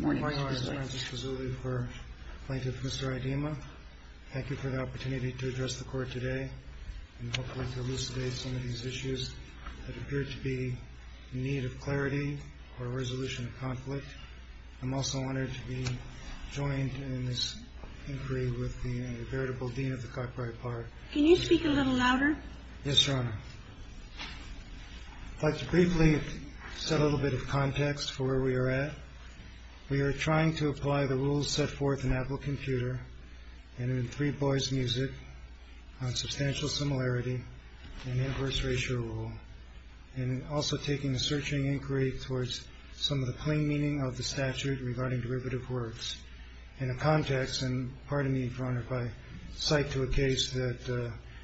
Thank you for the opportunity to address the Court today and hopefully elucidate some of these issues that appear to be in need of clarity or a resolution of conflict. I'm also honored to be joined in this inquiry with the Inveritable Dean of the Cockbriar Park. Can you speak a little louder? Yes, Your Honor. I'd like to briefly set a little bit of context for where we are at. We are trying to apply the rules set forth in Apple Computer and in Three Boys Music on substantial similarity and inverse ratio rule. And also taking a searching inquiry towards some of the plain meaning of the statute regarding derivative words. In a context, and pardon me, Your Honor, if I cite to a case that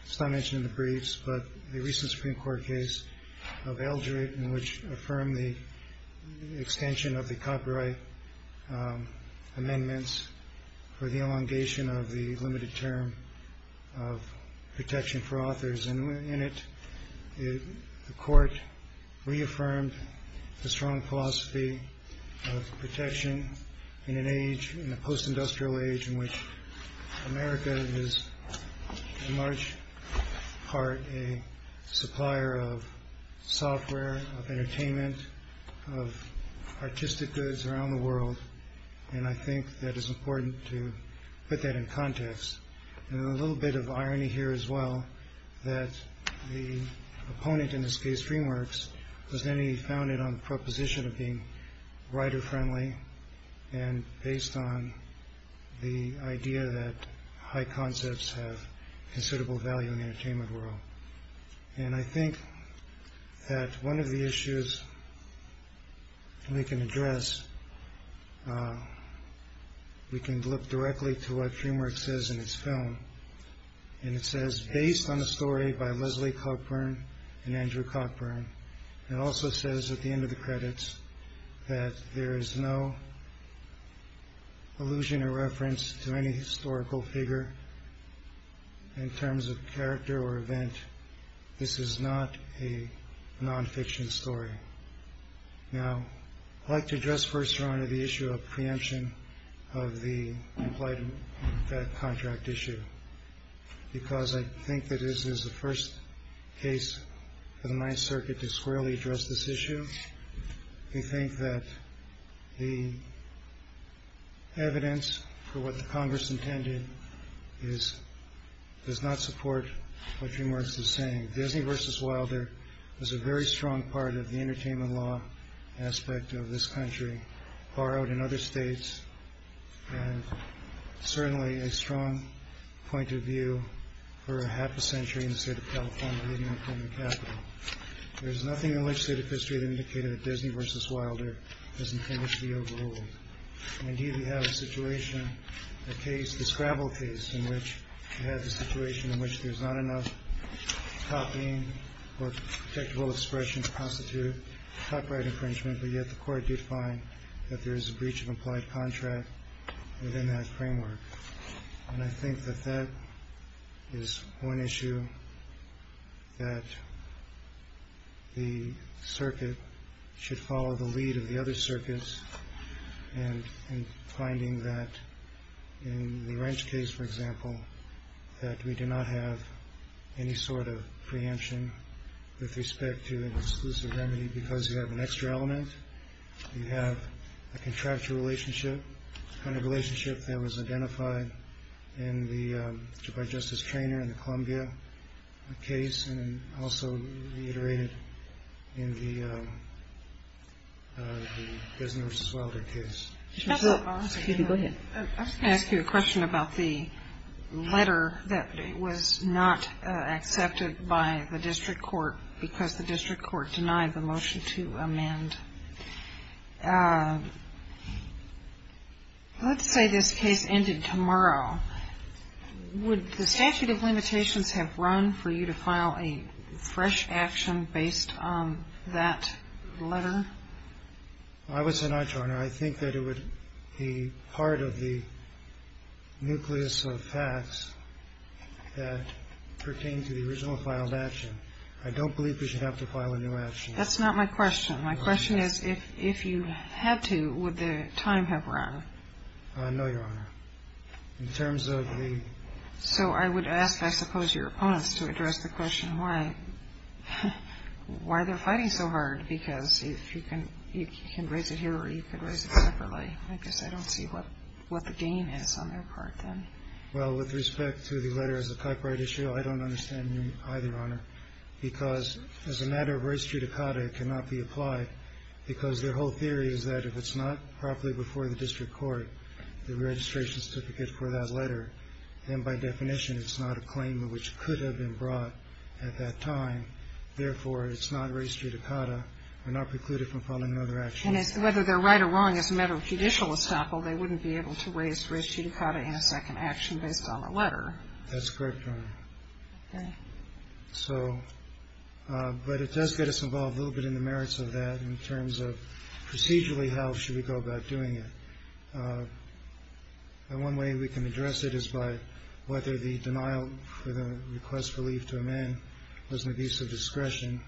is not mentioned in the briefs, but the recent Supreme Court case of Algeret in which affirmed the extension of the copyright amendments for the elongation of the limited term of protection for authors. And in it, the Court reaffirmed the strong philosophy of protection in an age, in a post-industrial age, in which America is in large part a supplier of software, of entertainment, of artistic goods around the world. And I think that it's important to put that in context. And a little bit of irony here as well, that the opponent in this case, DreamWorks, was founded on the proposition of being writer-friendly, and based on the idea that high concepts have considerable value in the entertainment world. And I think that one of the issues we can address, we can look directly to what DreamWorks says in its film. And it says, based on a story by Leslie Cockburn and Andrew Cockburn, and also says at the end of the credits that there is no allusion or reference to any historical figure in terms of character or event. This is not a nonfiction story. Now, I'd like to address first, Your Honor, the issue of preemption of the implied contract issue. Because I think that this is the first case for the Ninth Circuit to squarely address this issue. We think that the evidence for what the Congress intended does not support what DreamWorks is saying. Disney v. Wilder was a very strong part of the entertainment law aspect of this country, far out in other states. And certainly a strong point of view for half a century in the state of California, leading up to the Capitol. There's nothing in legislative history that indicated that Disney v. Wilder doesn't finish the overall. Indeed, we have a situation, a case, a scrabble case in which we have a situation in which there's not enough copying or protectable expression to constitute copyright infringement. But yet the court did find that there is a breach of implied contract within that framework. And I think that that is one issue that the circuit should follow the lead of the other circuits. And finding that in the Wrench case, for example, that we do not have any sort of preemption with respect to an exclusive remedy because you have an extra element. You have a contractual relationship, the kind of relationship that was identified by Justice Treanor in the Columbia case and also reiterated in the Disney v. Wilder case. Excuse me, go ahead. I was going to ask you a question about the letter that was not accepted by the district court because the district court denied the motion to amend. Let's say this case ended tomorrow. Would the statute of limitations have run for you to file a fresh action based on that letter? I would say not, Your Honor. I think that it would be part of the nucleus of facts that pertain to the original filed action. I don't believe we should have to file a new action. That's not my question. My question is if you had to, would the time have run? No, Your Honor. In terms of the ‑‑ So I would ask, I suppose, your opponents to address the question why they're fighting so hard because you can raise it here or you can raise it separately. I guess I don't see what the gain is on their part then. Well, with respect to the letter as a copyright issue, I don't understand either, Your Honor, because as a matter of right's judicata, it cannot be applied because their whole theory is that if it's not properly before the district court, the registration certificate for that letter, then by definition it's not a claim which could have been brought at that time. Therefore, it's not raised judicata. We're not precluded from filing another action. And whether they're right or wrong as a matter of judicial estoppel, they wouldn't be able to raise raised judicata in a second action based on a letter. That's correct, Your Honor. Okay. But it does get us involved a little bit in the merits of that in terms of procedurally how should we go about doing it. One way we can address it is by whether the denial for the request for leave to amend was an abuse of discretion.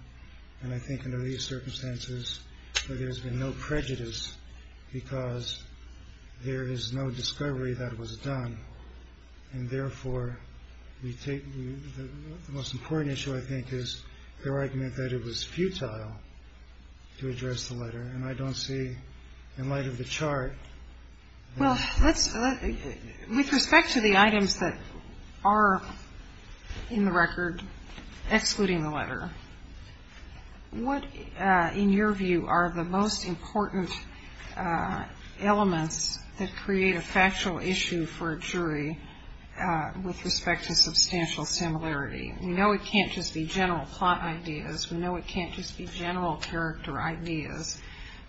And I think under these circumstances, there's been no prejudice because there is no discovery that it was done. And therefore, we take the most important issue, I think, is their argument that it was futile to address the letter. And I don't see in light of the chart. Well, with respect to the items that are in the record excluding the letter, what in your view are the most important elements that create a factual issue for a jury with respect to substantial similarity? We know it can't just be general plot ideas. We know it can't just be general character ideas.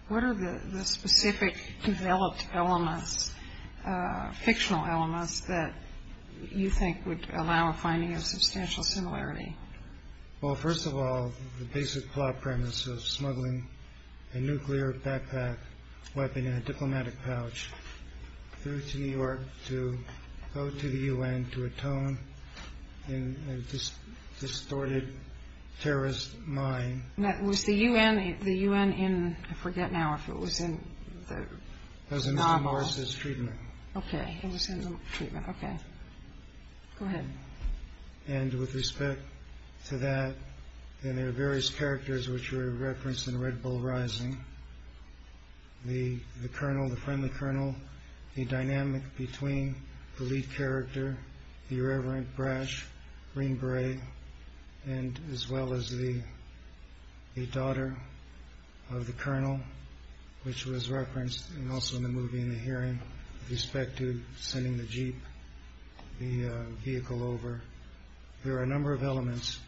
What are the specific developed elements, fictional elements, that you think would allow a finding of substantial similarity? Well, first of all, the basic plot premise of smuggling a nuclear backpack weapon in a diplomatic pouch through to New York to go to the U.N. to atone in a distorted terrorist mine. Was the U.N. in, I forget now if it was in the novel. It was in the treatment. Okay. It was in the treatment. Okay. Go ahead. And with respect to that, there are various characters which were referenced in Red Bull Rising. The Colonel, the friendly Colonel, the dynamic between the lead character, the irreverent brash Green Beret, and as well as the daughter of the Colonel, which was referenced also in the movie in the hearing, with respect to sending the jeep, the vehicle over. There are a number of elements,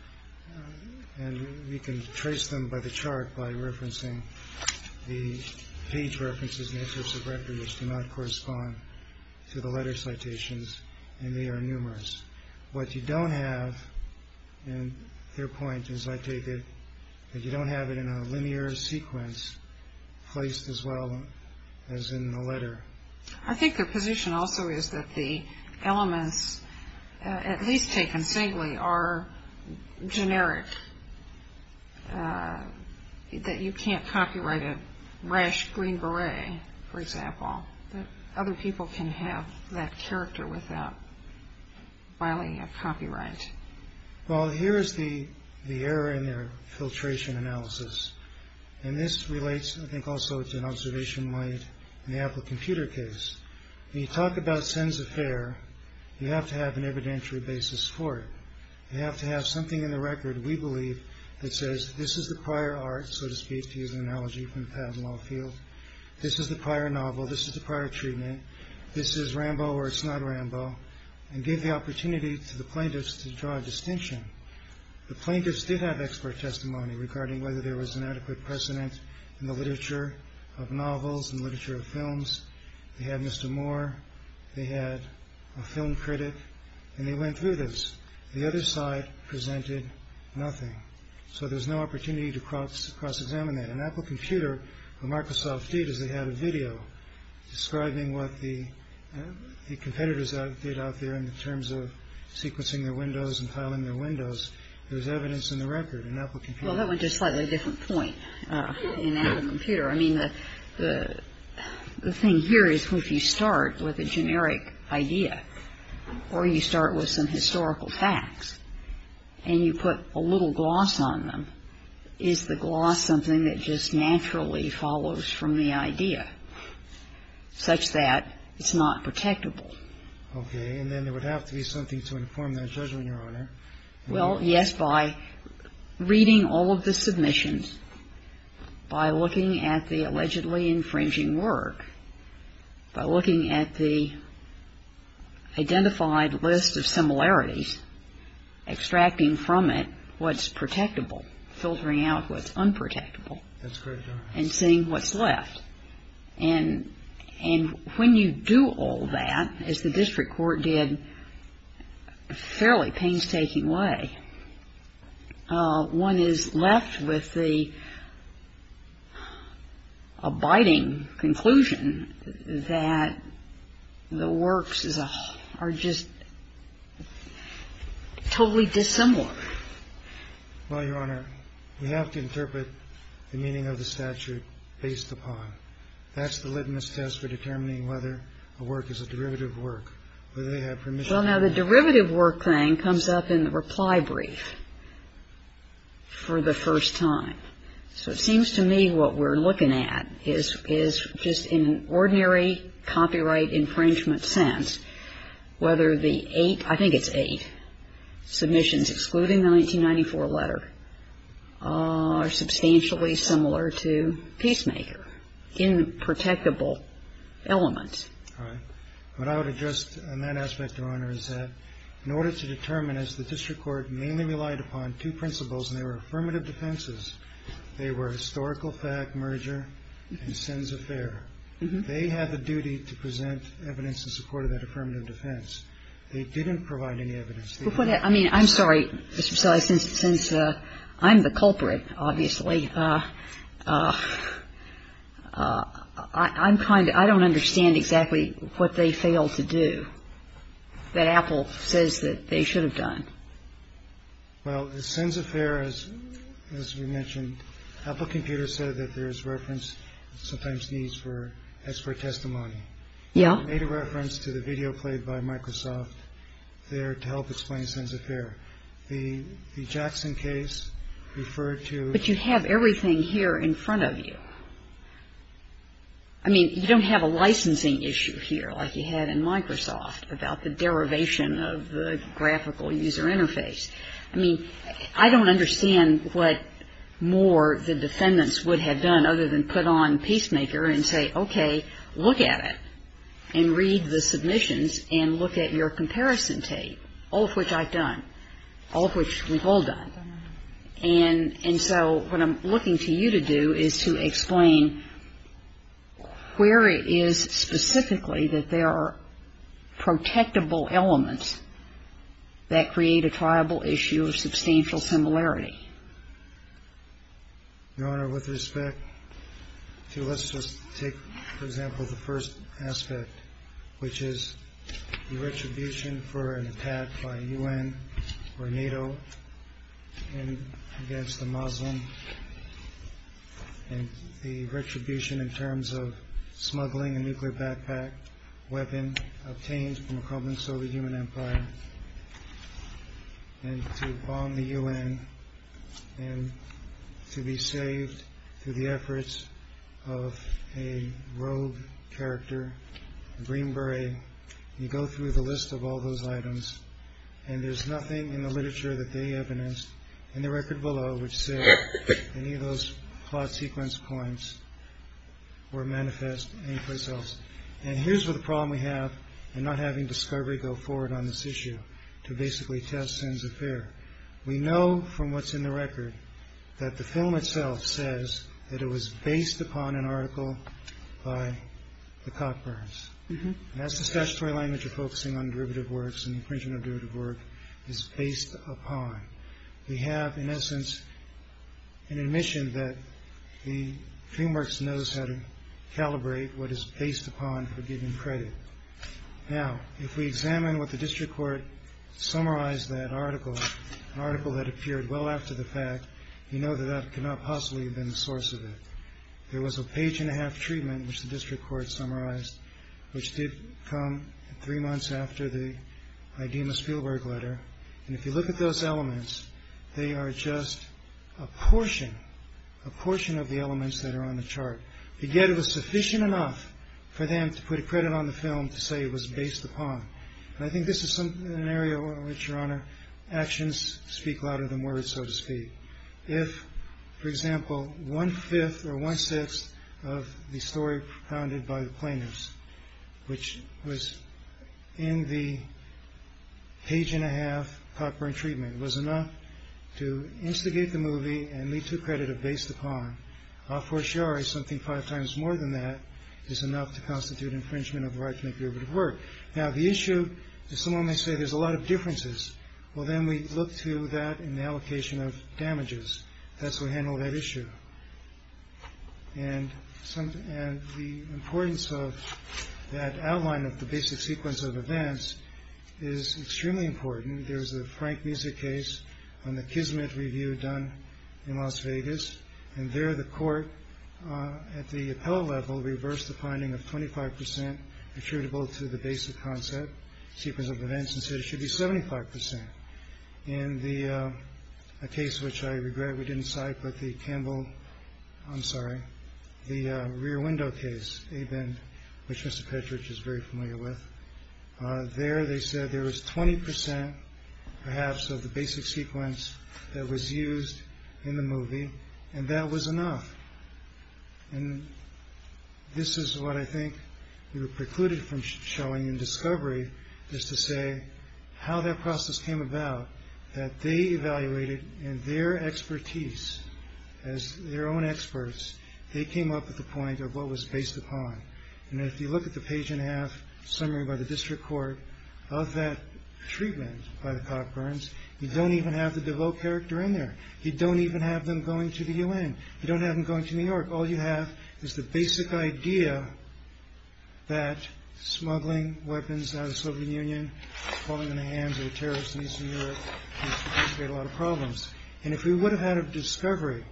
and we can trace them by the chart by referencing the page references and excerpts of record which do not correspond to the letter citations, and they are numerous. What you don't have, and their point is I take it, that you don't have it in a linear sequence placed as well as in the letter. I think their position also is that the elements, at least taken singly, are generic, that you can't copyright a brash Green Beret, for example. Other people can have that character without filing a copyright. Well, here is the error in their filtration analysis, and this relates I think also to an observation made in the Apple Computer case. When you talk about Sins Affair, you have to have an evidentiary basis for it. You have to have something in the record, we believe, that says this is the prior art, so to speak, to use an analogy from Patton Lafield, this is the prior novel, this is the prior treatment, this is Rambo or it's not Rambo, and give the opportunity to the plaintiffs to draw a distinction. The plaintiffs did have expert testimony regarding whether there was an adequate precedent in the literature of novels and literature of films. They had Mr. Moore, they had a film critic, and they went through this. The other side presented nothing. So there's no opportunity to cross-examine that. In Apple Computer, what Microsoft did is they had a video describing what the competitors did out there in terms of sequencing their windows and filing their windows. There's evidence in the record in Apple Computer. Well, that went to a slightly different point in Apple Computer. I mean, the thing here is if you start with a generic idea or you start with some historical facts and you put a little gloss on them, is the gloss something that just naturally follows from the idea, such that it's not protectable? Okay. And then there would have to be something to inform that judgment, Your Honor. Well, yes, by reading all of the submissions, by looking at the allegedly infringing work, by looking at the identified list of similarities, extracting from it what's protectable, filtering out what's unprotectable. That's correct, Your Honor. And seeing what's left. And when you do all that, as the district court did, fairly painstaking way, one is left with the abiding conclusion that the works are just totally dissimilar. Well, Your Honor, we have to interpret the meaning of the statute based upon. That's the litmus test for determining whether a work is a derivative work, whether they have permission. Well, now, the derivative work thing comes up in the reply brief for the first time. So it seems to me what we're looking at is just in an ordinary copyright infringement sense, whether the eight, I think it's eight, submissions excluding the 1994 letter, are substantially similar to Peacemaker in protectable elements. All right. What I would address in that aspect, Your Honor, is that in order to determine, as the district court mainly relied upon two principles, and they were affirmative defenses, they were historical fact, merger, and sins of error. They had the duty to present evidence in support of that affirmative defense. They didn't provide any evidence. Before that, I mean, I'm sorry, Mr. Sillais, since I'm the culprit, obviously. I'm kind of ‑‑ I don't understand exactly what they failed to do that Apple says that they should have done. Well, sins of error, as we mentioned, Apple Computer said that there's reference sometimes needs for expert testimony. Yeah. They made a reference to the video played by Microsoft there to help explain sins of error. The Jackson case referred to ‑‑ But you have everything here in front of you. I mean, you don't have a licensing issue here like you had in Microsoft about the derivation of the graphical user interface. I mean, I don't understand what more the defendants would have done other than put on Peacemaker and say, okay, look at it and read the submissions and look at your comparison tape, all of which I've done, all of which we've all done. And so what I'm looking to you to do is to explain where it is specifically that there are protectable elements that create a triable issue of substantial similarity. Your Honor, with respect to ‑‑ let's just take, for example, the first aspect, which is the retribution for an attack by U.N. or NATO against a Muslim and the retribution in terms of smuggling a nuclear backpack weapon obtained from a crumbling Soviet human empire and to bomb the U.N. and to be saved through the efforts of a rogue character, Green Beret. You go through the list of all those items, and there's nothing in the literature that they evidence in the record below which says any of those plot sequence points were manifest anyplace else. And here's what the problem we have in not having discovery go forward on this issue to basically test Sen's affair. We know from what's in the record that the film itself says that it was based upon an article by the Cockburns. That's the statutory language of focusing on derivative works and the infringement of derivative work is based upon. We have, in essence, an admission that the film works knows how to calibrate what is based upon for giving credit. Now, if we examine what the district court summarized that article, an article that appeared well after the fact, we know that that could not possibly have been the source of it. There was a page and a half treatment which the district court summarized which did come three months after the Idema Spielberg letter. And if you look at those elements, they are just a portion, a portion of the elements that are on the chart. And yet it was sufficient enough for them to put credit on the film to say it was based upon. And I think this is an area in which, Your Honor, actions speak louder than words, so to speak. If, for example, one-fifth or one-sixth of the story propounded by the plaintiffs, which was in the page and a half Cockburn treatment, was enough to instigate the movie and lead to credit of based upon, a fortiori, something five times more than that, is enough to constitute infringement of the right to make derivative work. Now, the issue is someone may say there's a lot of differences. Well, then we look to that in the allocation of damages. That's how we handle that issue. And the importance of that outline of the basic sequence of events is extremely important. There's a Frank Musick case on the Kismet Review done in Las Vegas. And there the court, at the appellate level, reversed the finding of 25% attributable to the basic concept sequence of events and said it should be 75%. In the case which I regret we didn't cite, but the Campbell... I'm sorry, the rear window case, which Mr. Petrich is very familiar with, there they said there was 20%, perhaps, of the basic sequence that was used in the movie, and that was enough. And this is what I think we were precluded from showing in discovery, is to say how that process came about, that they evaluated in their expertise, as their own experts, they came up with a point of what was based upon. And if you look at the page-and-a-half summary by the district court of that treatment by the Cockburns, you don't even have the DeVoe character in there. You don't even have them going to the UN. You don't have them going to New York. All you have is the basic idea that smuggling weapons out of the Soviet Union, falling into the hands of a terrorist in Eastern Europe, would create a lot of problems. And if we would have had a discovery,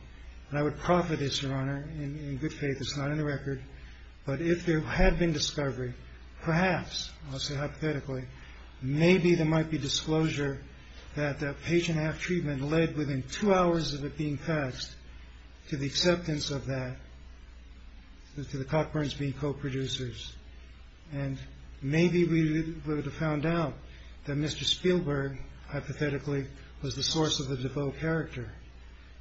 and I would profit this, Your Honor, in good faith, it's not in the record, but if there had been discovery, perhaps, I'll say hypothetically, maybe there might be disclosure that that page-and-a-half treatment would have led, within two hours of it being faxed, to the acceptance of that, to the Cockburns being co-producers. And maybe we would have found out that Mr. Spielberg, hypothetically, was the source of the DeVoe character.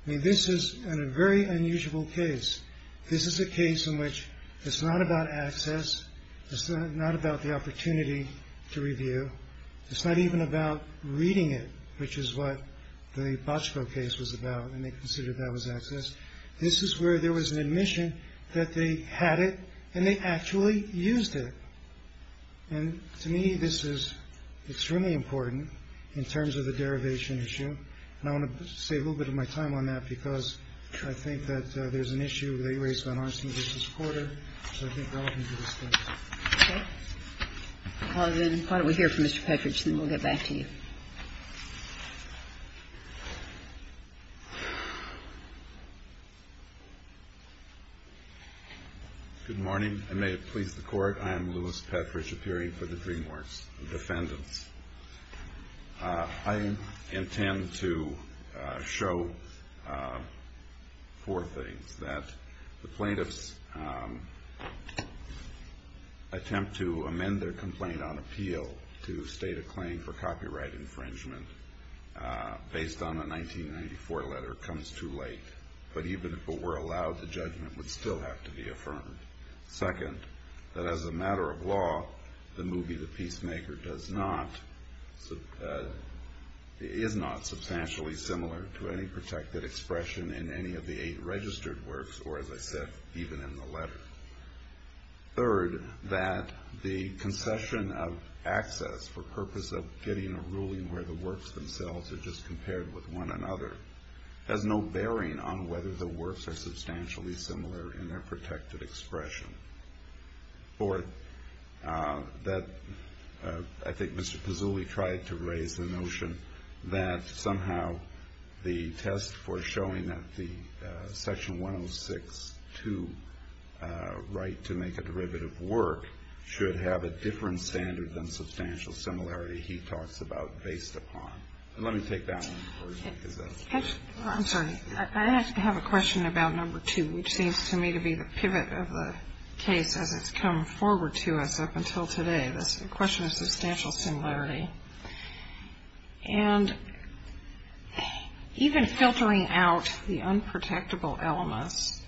I mean, this is a very unusual case. This is a case in which it's not about access, it's not about the opportunity to review, it's not even about reading it, which is what the Bochco case was about, and they considered that was access. This is where there was an admission that they had it, and they actually used it. And to me, this is extremely important in terms of the derivation issue. And I want to save a little bit of my time on that, because I think that there's an issue that you raised on Arnstein v. Porter, which I think is relevant to this case. Okay. I'll call it in. Why don't we hear from Mr. Petrich, and then we'll get back to you. Good morning, and may it please the Court. I am Louis Petrich, appearing for the DreamWorks Defendants. I intend to show four things. That the plaintiffs' attempt to amend their complaint on appeal to state a claim for copyright infringement based on a 1994 letter comes too late. But even if it were allowed, the judgment would still have to be affirmed. Second, that as a matter of law, the movie The Peacemaker is not substantially similar to any protected expression in any of the eight registered works, or as I said, even in the letter. Third, that the concession of access for purpose of getting a ruling where the works themselves are just compared with one another has no bearing on whether the works are substantially similar in their protected expression. Fourth, that I think Mr. Pizzulli tried to raise the notion that somehow the test for showing that the Section 106.2 right to make a derivative work should have a different standard than substantial similarity he talks about based upon. And let me take that one. I'm sorry. I have a question about number two, which seems to me to be the pivot of the case as it's come forward to us up until today. The question of substantial similarity. And even filtering out the unprotectable elements,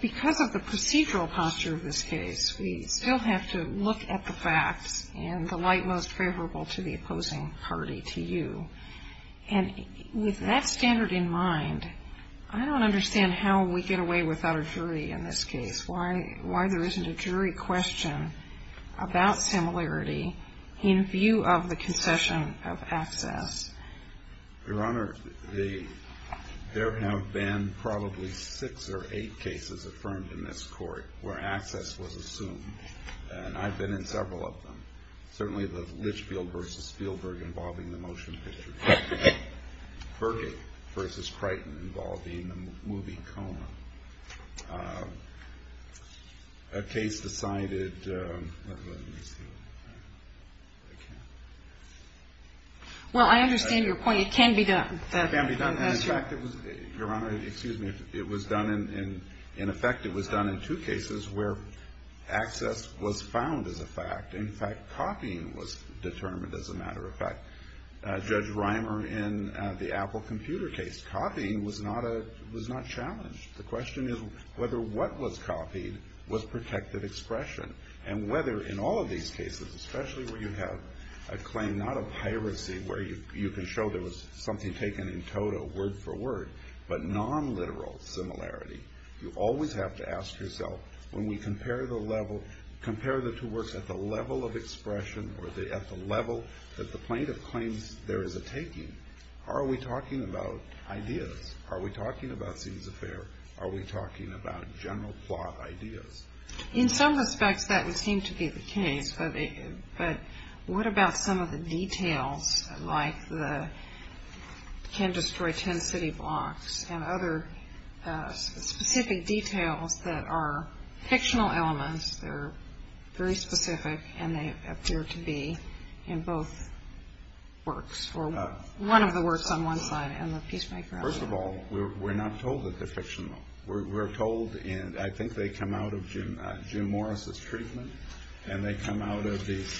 because of the procedural posture of this case, we still have to look at the facts and the light most favorable to the opposing party to you. And with that standard in mind, I don't understand how we get away without a jury in this case, why there isn't a jury question about similarity in view of the concession of access. Your Honor, there have been probably six or eight cases affirmed in this court where access was assumed. And I've been in several of them. Certainly the Litchfield v. Spielberg involving the motion picture. Birgate v. Crichton involving the movie Coma. A case decided. Well, I understand your point. It can be done. It can be done. Your Honor, excuse me. It was done in effect. It was done in two cases where access was found as a fact. In fact, copying was determined as a matter of fact. Judge Reimer in the Apple computer case. Copying was not challenged. The question is whether what was copied was protected expression. And whether in all of these cases, especially where you have a claim not of piracy where you can show there was something taken in total word for word, but non-literal similarity, you always have to ask yourself when we compare the two works at the level of expression or at the level that the plaintiff claims there is a taking, are we talking about ideas? Are we talking about scenes of fear? Are we talking about general plot ideas? In some respects, that would seem to be the case. But what about some of the details like the can destroy ten city blocks and other specific details that are fictional elements, they're very specific and they appear to be in both works or one of the works on one side and the peacemaker on the other? First of all, we're not told that they're fictional. We're told and I think they come out of Jim Morris' treatment and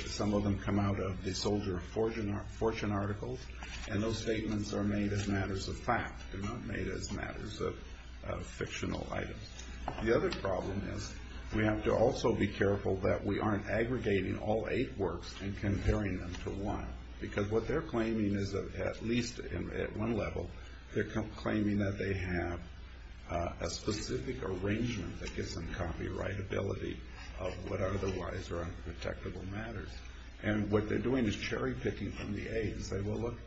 some of them come out of the Soldier of Fortune articles and those statements are made as matters of fact, they're not made as matters of fictional items. The other problem is we have to also be careful that we aren't aggregating all eight works and comparing them to one because what they're claiming is at least at one level, they're claiming that they have a specific arrangement that gives them copyright ability of what otherwise are unprotectable matters. And what they're doing is cherry picking from the A's. They will look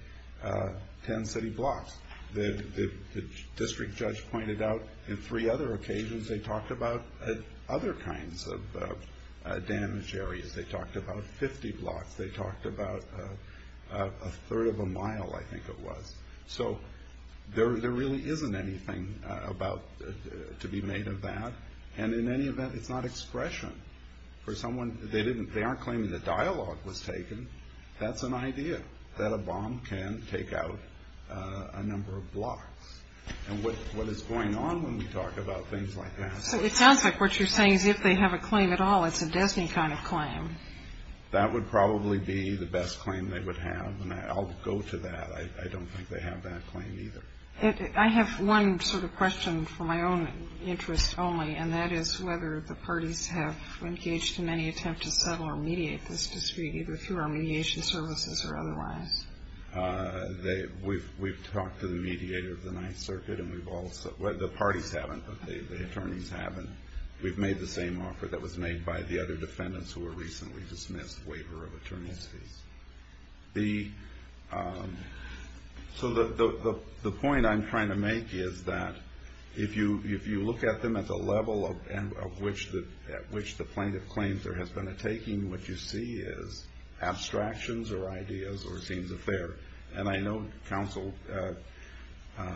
ten city blocks. The district judge pointed out in three other occasions they talked about other kinds of damaged areas. They talked about 50 blocks. They talked about a third of a mile, I think it was. So there really isn't anything to be made of that and in any event, it's not expression. They aren't claiming that dialogue was taken. That's an idea that a bomb can take out a number of blocks. And what is going on when we talk about things like that? So it sounds like what you're saying is if they have a claim at all, it's a destiny kind of claim. That would probably be the best claim they would have and I'll go to that. I don't think they have that claim either. I have one sort of question for my own interest only and that is whether the parties have engaged in any attempt to settle or mediate this dispute either through our mediation services or otherwise. We've talked to the mediator of the Ninth Circuit and we've also – well, the parties haven't but the attorneys haven't. We've made the same offer that was made by the other defendants who were recently dismissed waiver of attorney's fees. So the point I'm trying to make is that if you look at them at the level at which the plaintiff claims there has been a taking, what you see is abstractions or ideas or scenes of fear. And I know counsel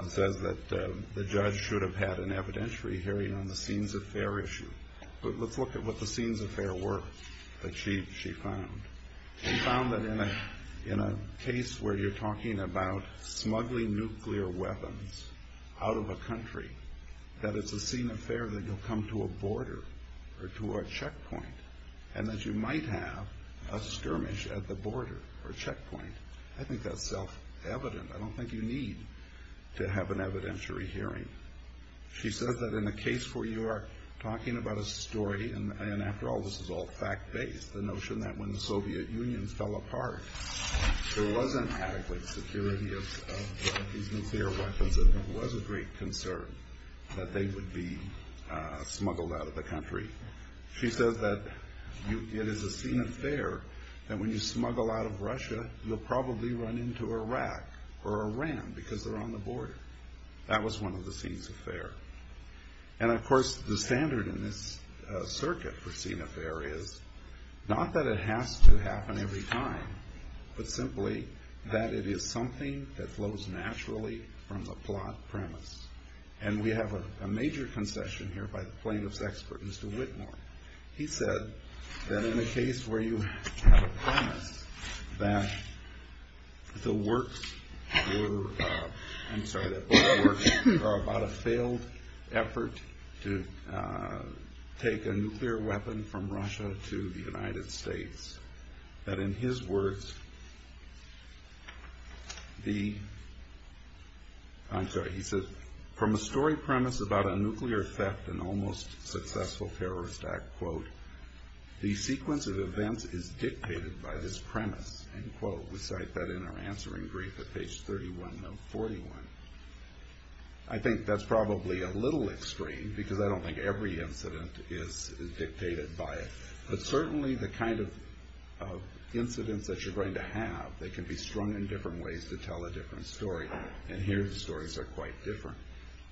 says that the judge should have had an evidentiary hearing on the scenes of fear issue. But let's look at what the scenes of fear were that she found. She found that in a case where you're talking about smuggling nuclear weapons out of a country, that it's a scene of fear that you'll come to a border or to a checkpoint and that you might have a skirmish at the border or checkpoint. I think that's self-evident. I don't think you need to have an evidentiary hearing. She says that in a case where you are talking about a story and, after all, this is all fact-based, the notion that when the Soviet Union fell apart, there wasn't adequate security of these nuclear weapons and there was a great concern that they would be smuggled out of the country. She says that it is a scene of fear that when you smuggle out of Russia, you'll probably run into Iraq or Iran because they're on the border. That was one of the scenes of fear. And, of course, the standard in this circuit for scene of fear is not that it has to happen every time, but simply that it is something that flows naturally from the plot premise. And we have a major concession here by the plaintiff's expert, Mr. Whitmore. He said that in a case where you have a promise that the works were, I'm sorry, that the works are about a failed effort to take a nuclear weapon from Russia to the United States, that in his words the, I'm sorry, he says, from a story premise about a nuclear theft and almost successful terrorist act, quote, the sequence of events is dictated by this premise, end quote. We cite that in our answering brief at page 31 of 41. I think that's probably a little extreme because I don't think every incident is dictated by it. But certainly the kind of incidents that you're going to have, they can be strung in different ways to tell a different story. And here the stories are quite different.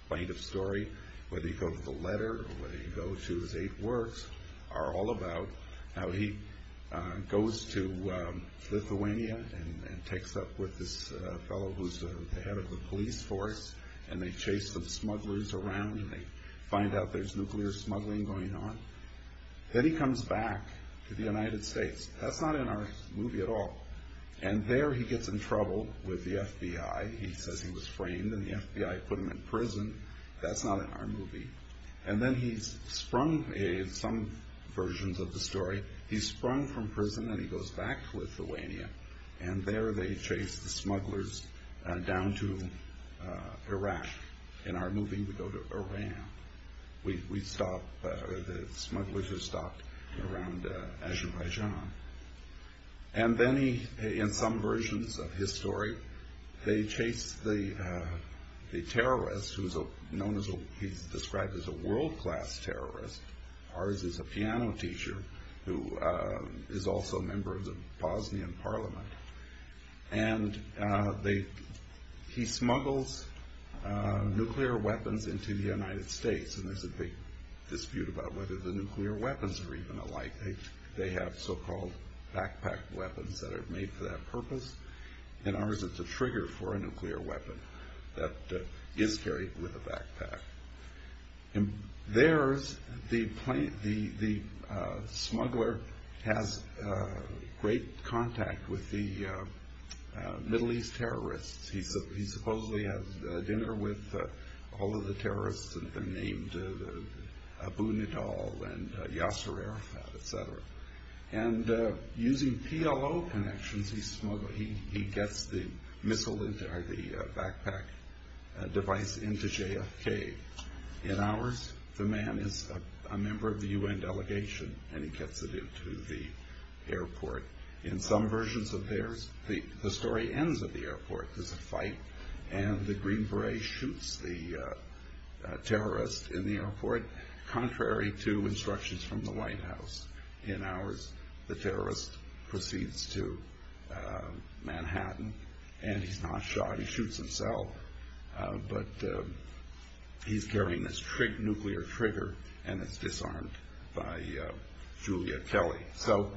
Plaintiff's story, whether you go to the letter or whether you go to his eight works, are all about how he goes to Lithuania and takes up with this fellow who's the head of the police force, and they chase the smugglers around and they find out there's nuclear smuggling going on. Then he comes back to the United States. That's not in our movie at all. And there he gets in trouble with the FBI. He says he was framed and the FBI put him in prison. That's not in our movie. And then he's sprung, in some versions of the story, he's sprung from prison and he goes back to Lithuania, and there they chase the smugglers down to Iraq. In our movie we go to Iran. The smugglers are stopped around Azerbaijan. And then in some versions of his story they chase the terrorist, who he's described as a world-class terrorist. Ours is a piano teacher who is also a member of the Bosnian parliament. And he smuggles nuclear weapons into the United States, and there's a big dispute about whether the nuclear weapons are even alike. They have so-called backpack weapons that are made for that purpose. In ours it's a trigger for a nuclear weapon that is carried with a backpack. In theirs, the smuggler has great contact with the Middle East terrorists. He supposedly has dinner with all of the terrorists and they're named Abu Nidal and Yasser Arafat, etc. And using PLO connections, he gets the backpack device into JFK. In ours, the man is a member of the UN delegation and he gets it into the airport. In some versions of theirs, the story ends at the airport. There's a fight and the Green Beret shoots the terrorist in the airport contrary to instructions from the White House. In ours, the terrorist proceeds to Manhattan and he's not shot, he shoots himself. But he's carrying this nuclear trigger and it's disarmed by Julia Kelly. So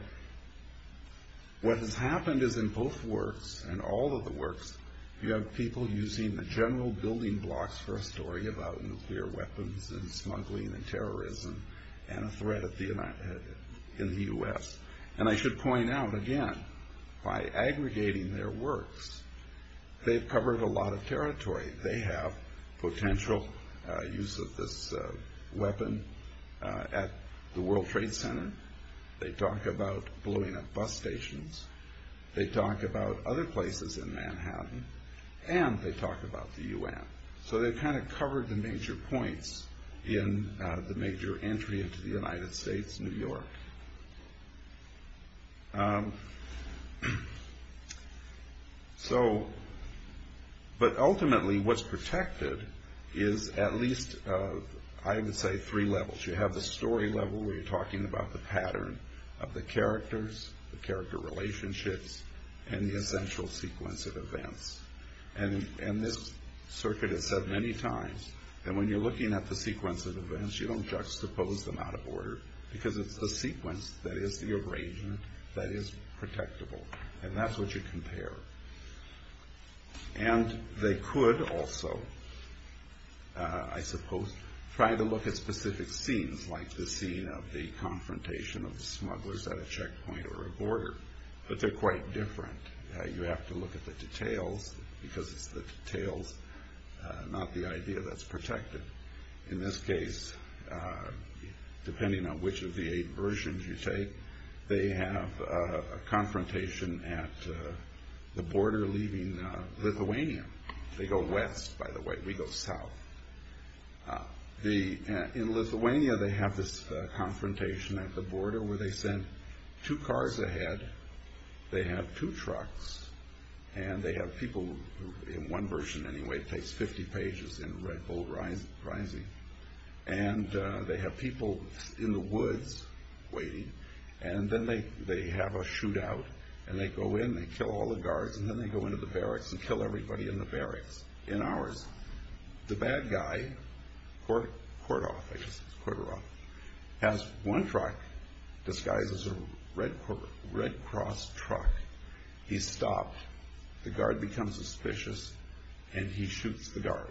what has happened is in both works, in all of the works, you have people using the general building blocks for a story about nuclear weapons and smuggling and terrorism and a threat in the US. And I should point out again, by aggregating their works, they've covered a lot of territory. They have potential use of this weapon at the World Trade Center. They talk about blowing up bus stations. They talk about other places in Manhattan and they talk about the UN. So they've kind of covered the major points in the major entry into the United States, New York. So, but ultimately what's protected is at least, I would say, three levels. You have the story level where you're talking about the pattern of the characters, the character relationships, and the essential sequence of events. And this circuit has said many times that when you're looking at the sequence of events, you don't juxtapose them out of order because it's the sequence that is the arrangement that is protectable. And that's what you compare. And they could also, I suppose, try to look at specific scenes like the scene of the confrontation of the smugglers at a checkpoint or a border. But they're quite different. You have to look at the details because it's the details, not the idea that's protected. In this case, depending on which of the eight versions you take, they have a confrontation at the border leaving Lithuania. They go west, by the way. We go south. In Lithuania, they have this confrontation at the border where they send two cars ahead. They have two trucks, and they have people, in one version anyway, it takes 50 pages in Red Bull Rising, and they have people in the woods waiting, and then they have a shootout, and they go in, they kill all the guards, and then they go into the barracks and kill everybody in the barracks, in hours. The bad guy, Kordov, I guess it's Kordov, has one truck disguised as a Red Cross truck. He's stopped. The guard becomes suspicious, and he shoots the guard,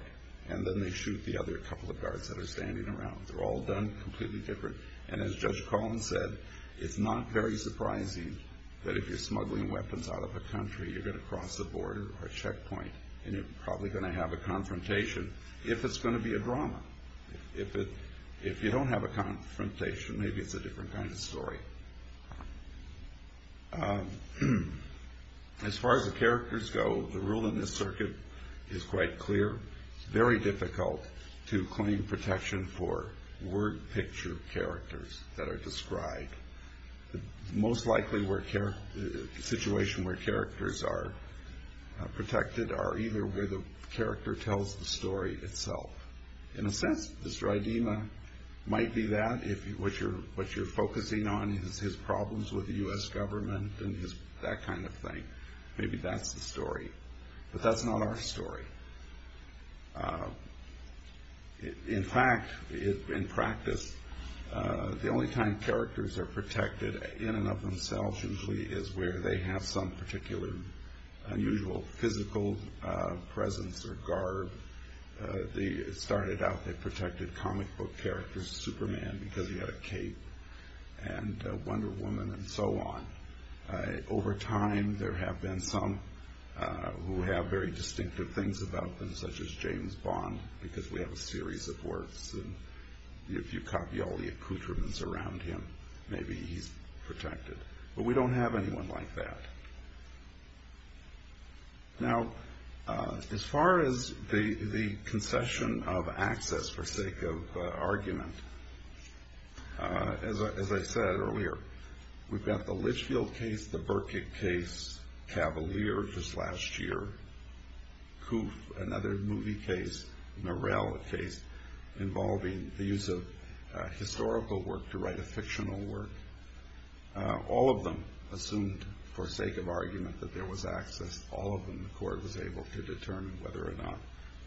and then they shoot the other couple of guards that are standing around. They're all done completely different, and as Judge Collins said, it's not very surprising that if you're smuggling weapons out of a country, you're going to cross a border or a checkpoint, and you're probably going to have a confrontation if it's going to be a drama. If you don't have a confrontation, maybe it's a different kind of story. As far as the characters go, the rule in this circuit is quite clear. It's very difficult to claim protection for word-picture characters that are described. The most likely situation where characters are protected are either where the character tells the story itself, in a sense, Mr. Idema might be that. If what you're focusing on is his problems with the U.S. government and that kind of thing, maybe that's the story, but that's not our story. In fact, in practice, the only time characters are protected in and of themselves usually is where they have some particular unusual physical presence or guard. It started out they protected comic book characters, Superman, because he had a cape, and Wonder Woman, and so on. Over time, there have been some who have very distinctive things about them, such as James Bond, because we have a series of works, and if you copy all the accoutrements around him, maybe he's protected. But we don't have anyone like that. Now, as far as the concession of access for sake of argument, as I said earlier, we've got the Litchfield case, the Burkitt case, Cavalier, just last year, Koof, another movie case, Murrell, a case involving the use of historical work to write a fictional work. All of them assumed, for sake of argument, that there was access. All of them, the court was able to determine whether or not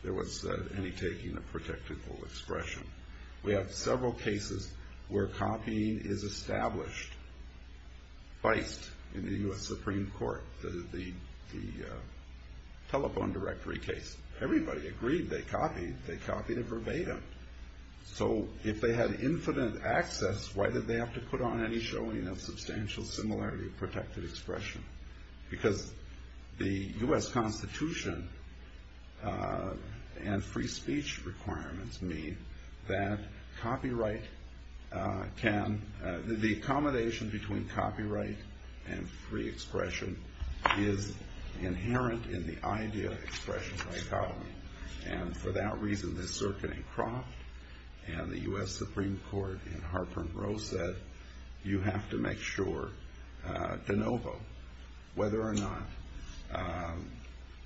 there was any taking of protectable expression. We have several cases where copying is established. Feist, in the U.S. Supreme Court, the telephone directory case. Everybody agreed they copied. They copied it verbatim. So if they had infinite access, why did they have to put on any showing of substantial similarity of protected expression? Because the U.S. Constitution and free speech requirements mean that copyright can, the accommodation between copyright and free expression is inherent in the idea of expression dichotomy. And for that reason, the circuit in Croft and the U.S. Supreme Court in Harper and Rose said, you have to make sure de novo whether or not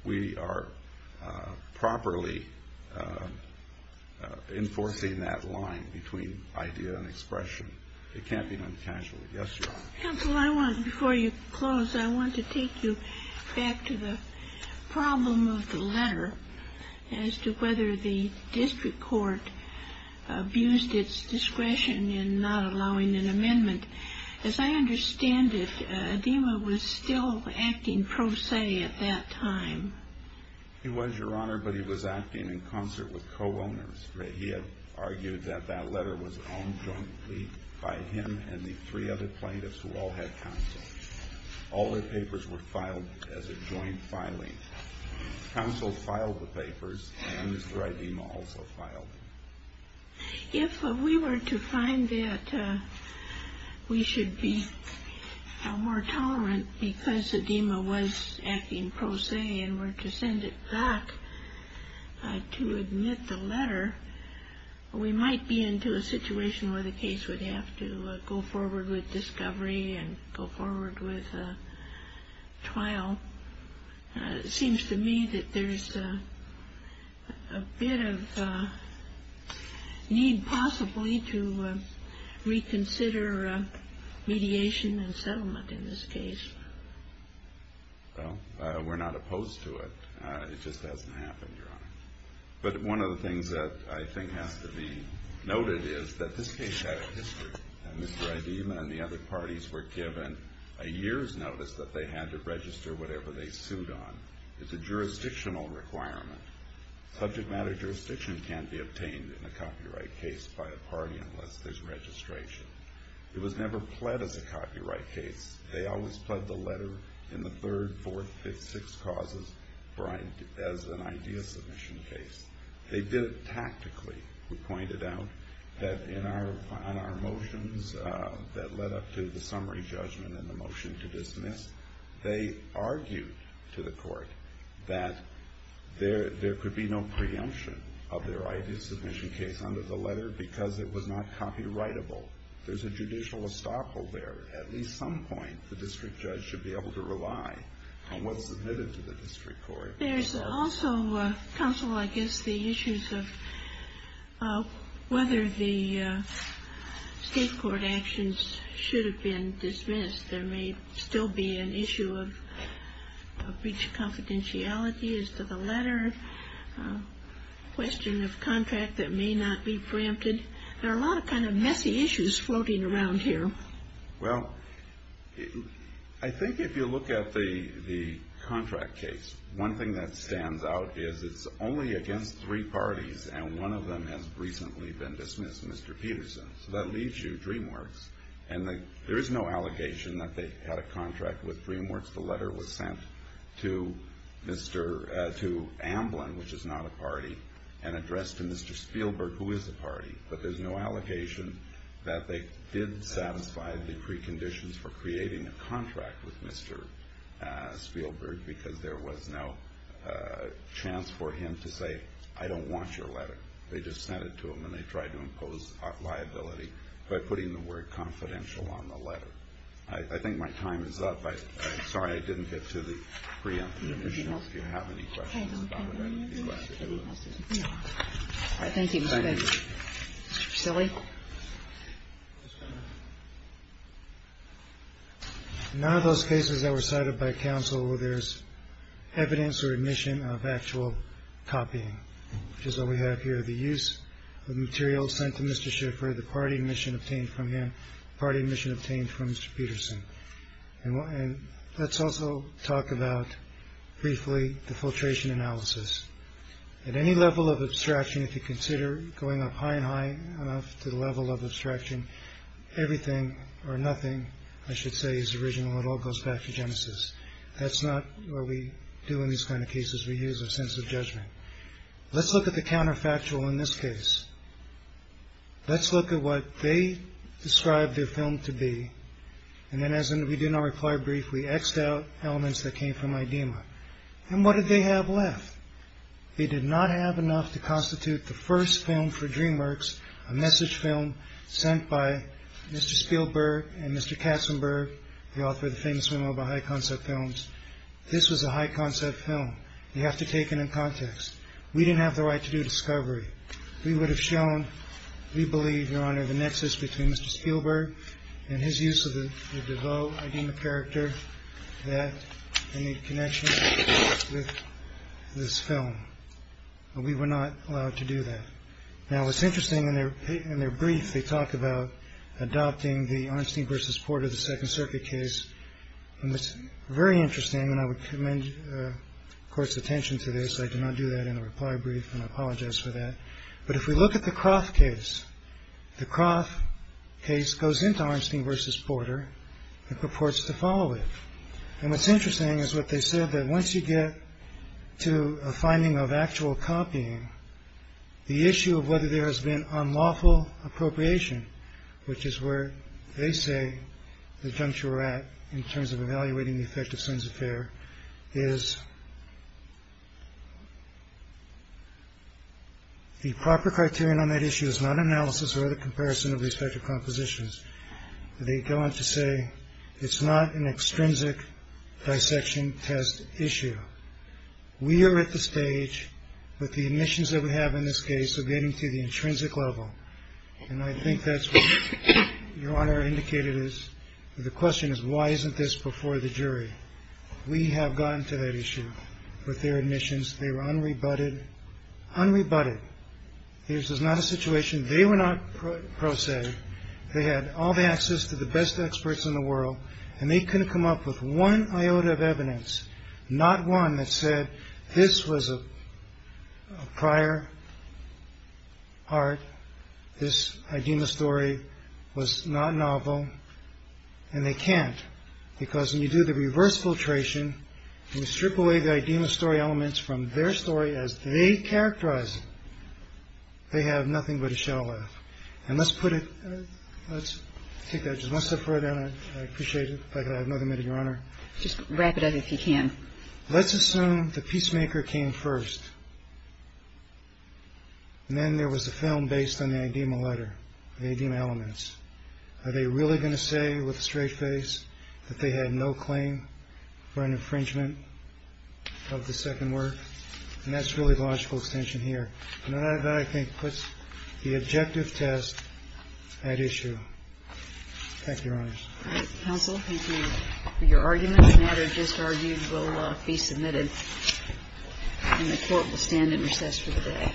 we are properly enforcing that line between idea and expression. It can't be done casually. Yes, Your Honor. Counsel, I want, before you close, I want to take you back to the problem of the letter as to whether the district court abused its discretion in not allowing an amendment. As I understand it, Adema was still acting pro se at that time. He was, Your Honor, but he was acting in concert with co-owners. He had argued that that letter was owned jointly by him and the three other plaintiffs who all had counsel. All their papers were filed as a joint filing. Counsel filed the papers, and Mr. Adema also filed. If we were to find that we should be more tolerant because Adema was acting pro se and were to send it back to admit the letter, we might be into a situation where the case would have to go forward with discovery and go forward with trial. It seems to me that there's a bit of need, possibly, to reconsider mediation and settlement in this case. Well, we're not opposed to it. It just hasn't happened, Your Honor. But one of the things that I think has to be noted is that this case had a history. Mr. Adema and the other parties were given a year's notice that they had to register whatever they sued on. It's a jurisdictional requirement. Subject matter jurisdiction can't be obtained in a copyright case by a party unless there's registration. It was never pled as a copyright case. They always pled the letter in the third, fourth, fifth, sixth causes as an idea submission case. They did it tactically. We pointed out that in our motions that led up to the summary judgment and the motion to dismiss, they argued to the court that there could be no preemption of their idea submission case under the letter because it was not copyrightable. There's a judicial estoppel there. At least some point, the district judge should be able to rely on what's submitted to the district court. There's also, counsel, I guess, the issues of whether the state court actions should have been dismissed. There may still be an issue of breach of confidentiality as to the letter, question of contract that may not be preempted. There are a lot of kind of messy issues floating around here. Well, I think if you look at the contract case, one thing that stands out is it's only against three parties, and one of them has recently been dismissed, Mr. Peterson. That leaves you DreamWorks. There is no allegation that they had a contract with DreamWorks. The letter was sent to Amblin, which is not a party, and addressed to Mr. Spielberg, who is a party, but there's no allegation that they did satisfy the preconditions for creating a contract with Mr. Spielberg because there was no chance for him to say, I don't want your letter. They just sent it to him, and they tried to impose liability by putting the word confidential on the letter. I think my time is up. I'm sorry I didn't get to the preemptive issue. If you have any questions about it, I'd be glad to do it. All right. Thank you. Thank you. Mr. Priscilli. None of those cases that were cited by counsel, there's evidence or admission of actual copying, which is what we have here, the use of materials sent to Mr. Schiffer, the party admission obtained from him, party admission obtained from Mr. Peterson. And let's also talk about, briefly, the filtration analysis. At any level of abstraction, if you consider going up high and high enough to the level of abstraction, everything or nothing, I should say, is original. It all goes back to Genesis. That's not what we do in these kind of cases. We use a sense of judgment. Let's look at the counterfactual in this case. Let's look at what they described their film to be, and then, as we did in our reply brief, we X'd out elements that came from IDEMA. And what did they have left? They did not have enough to constitute the first film for DreamWorks, a message film sent by Mr. Spielberg and Mr. Katzenberg, the author of the famous film about high-concept films. This was a high-concept film. You have to take it in context. We didn't have the right to do discovery. We would have shown, we believe, Your Honor, the nexus between Mr. Spielberg and his use of the DeVoe IDEMA character, and the connection with this film. We were not allowed to do that. Now, what's interesting, in their brief, they talk about adopting the Arnstein v. Porter, the Second Circuit case. And it's very interesting, and I would commend the Court's attention to this. I did not do that in the reply brief, and I apologize for that. But if we look at the Croft case, the Croft case goes into Arnstein v. Porter and purports to follow it. And what's interesting is what they said, that once you get to a finding of actual copying, the issue of whether there has been unlawful appropriation, which is where they say the juncture we're at in terms of evaluating the effect of Sohn's Affair, is the proper criterion on that issue is not analysis or the comparison of respective compositions. They go on to say it's not an extrinsic dissection test issue. We are at the stage with the admissions that we have in this case of getting to the intrinsic level. And I think that's what Your Honor indicated is. The question is, why isn't this before the jury? We have gotten to that issue with their admissions. They were unrebutted. Unrebutted. This is not a situation. They were not pro se. They had all the access to the best experts in the world. And they couldn't come up with one iota of evidence, not one that said this was a prior art. This Idema story was not novel. And they can't. Because when you do the reverse filtration, you strip away the Idema story elements from their story as they characterize it, they have nothing but a shell left. And let's put it, let's take that just one step further, and I appreciate it if I could have another minute, Your Honor. Just wrap it up if you can. Let's assume the Peacemaker came first. And then there was a film based on the Idema letter, the Idema elements. Are they really going to say with a straight face that they had no claim for an infringement of the second work? And that's really the logical extension here. And that, I think, puts the objective test at issue. Thank you, Your Honor. All right. Counsel, thank you. Your arguments and other disargues will be submitted, and the Court will stand in recess for the day.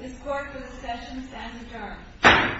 This Court is in recessions and adjourned.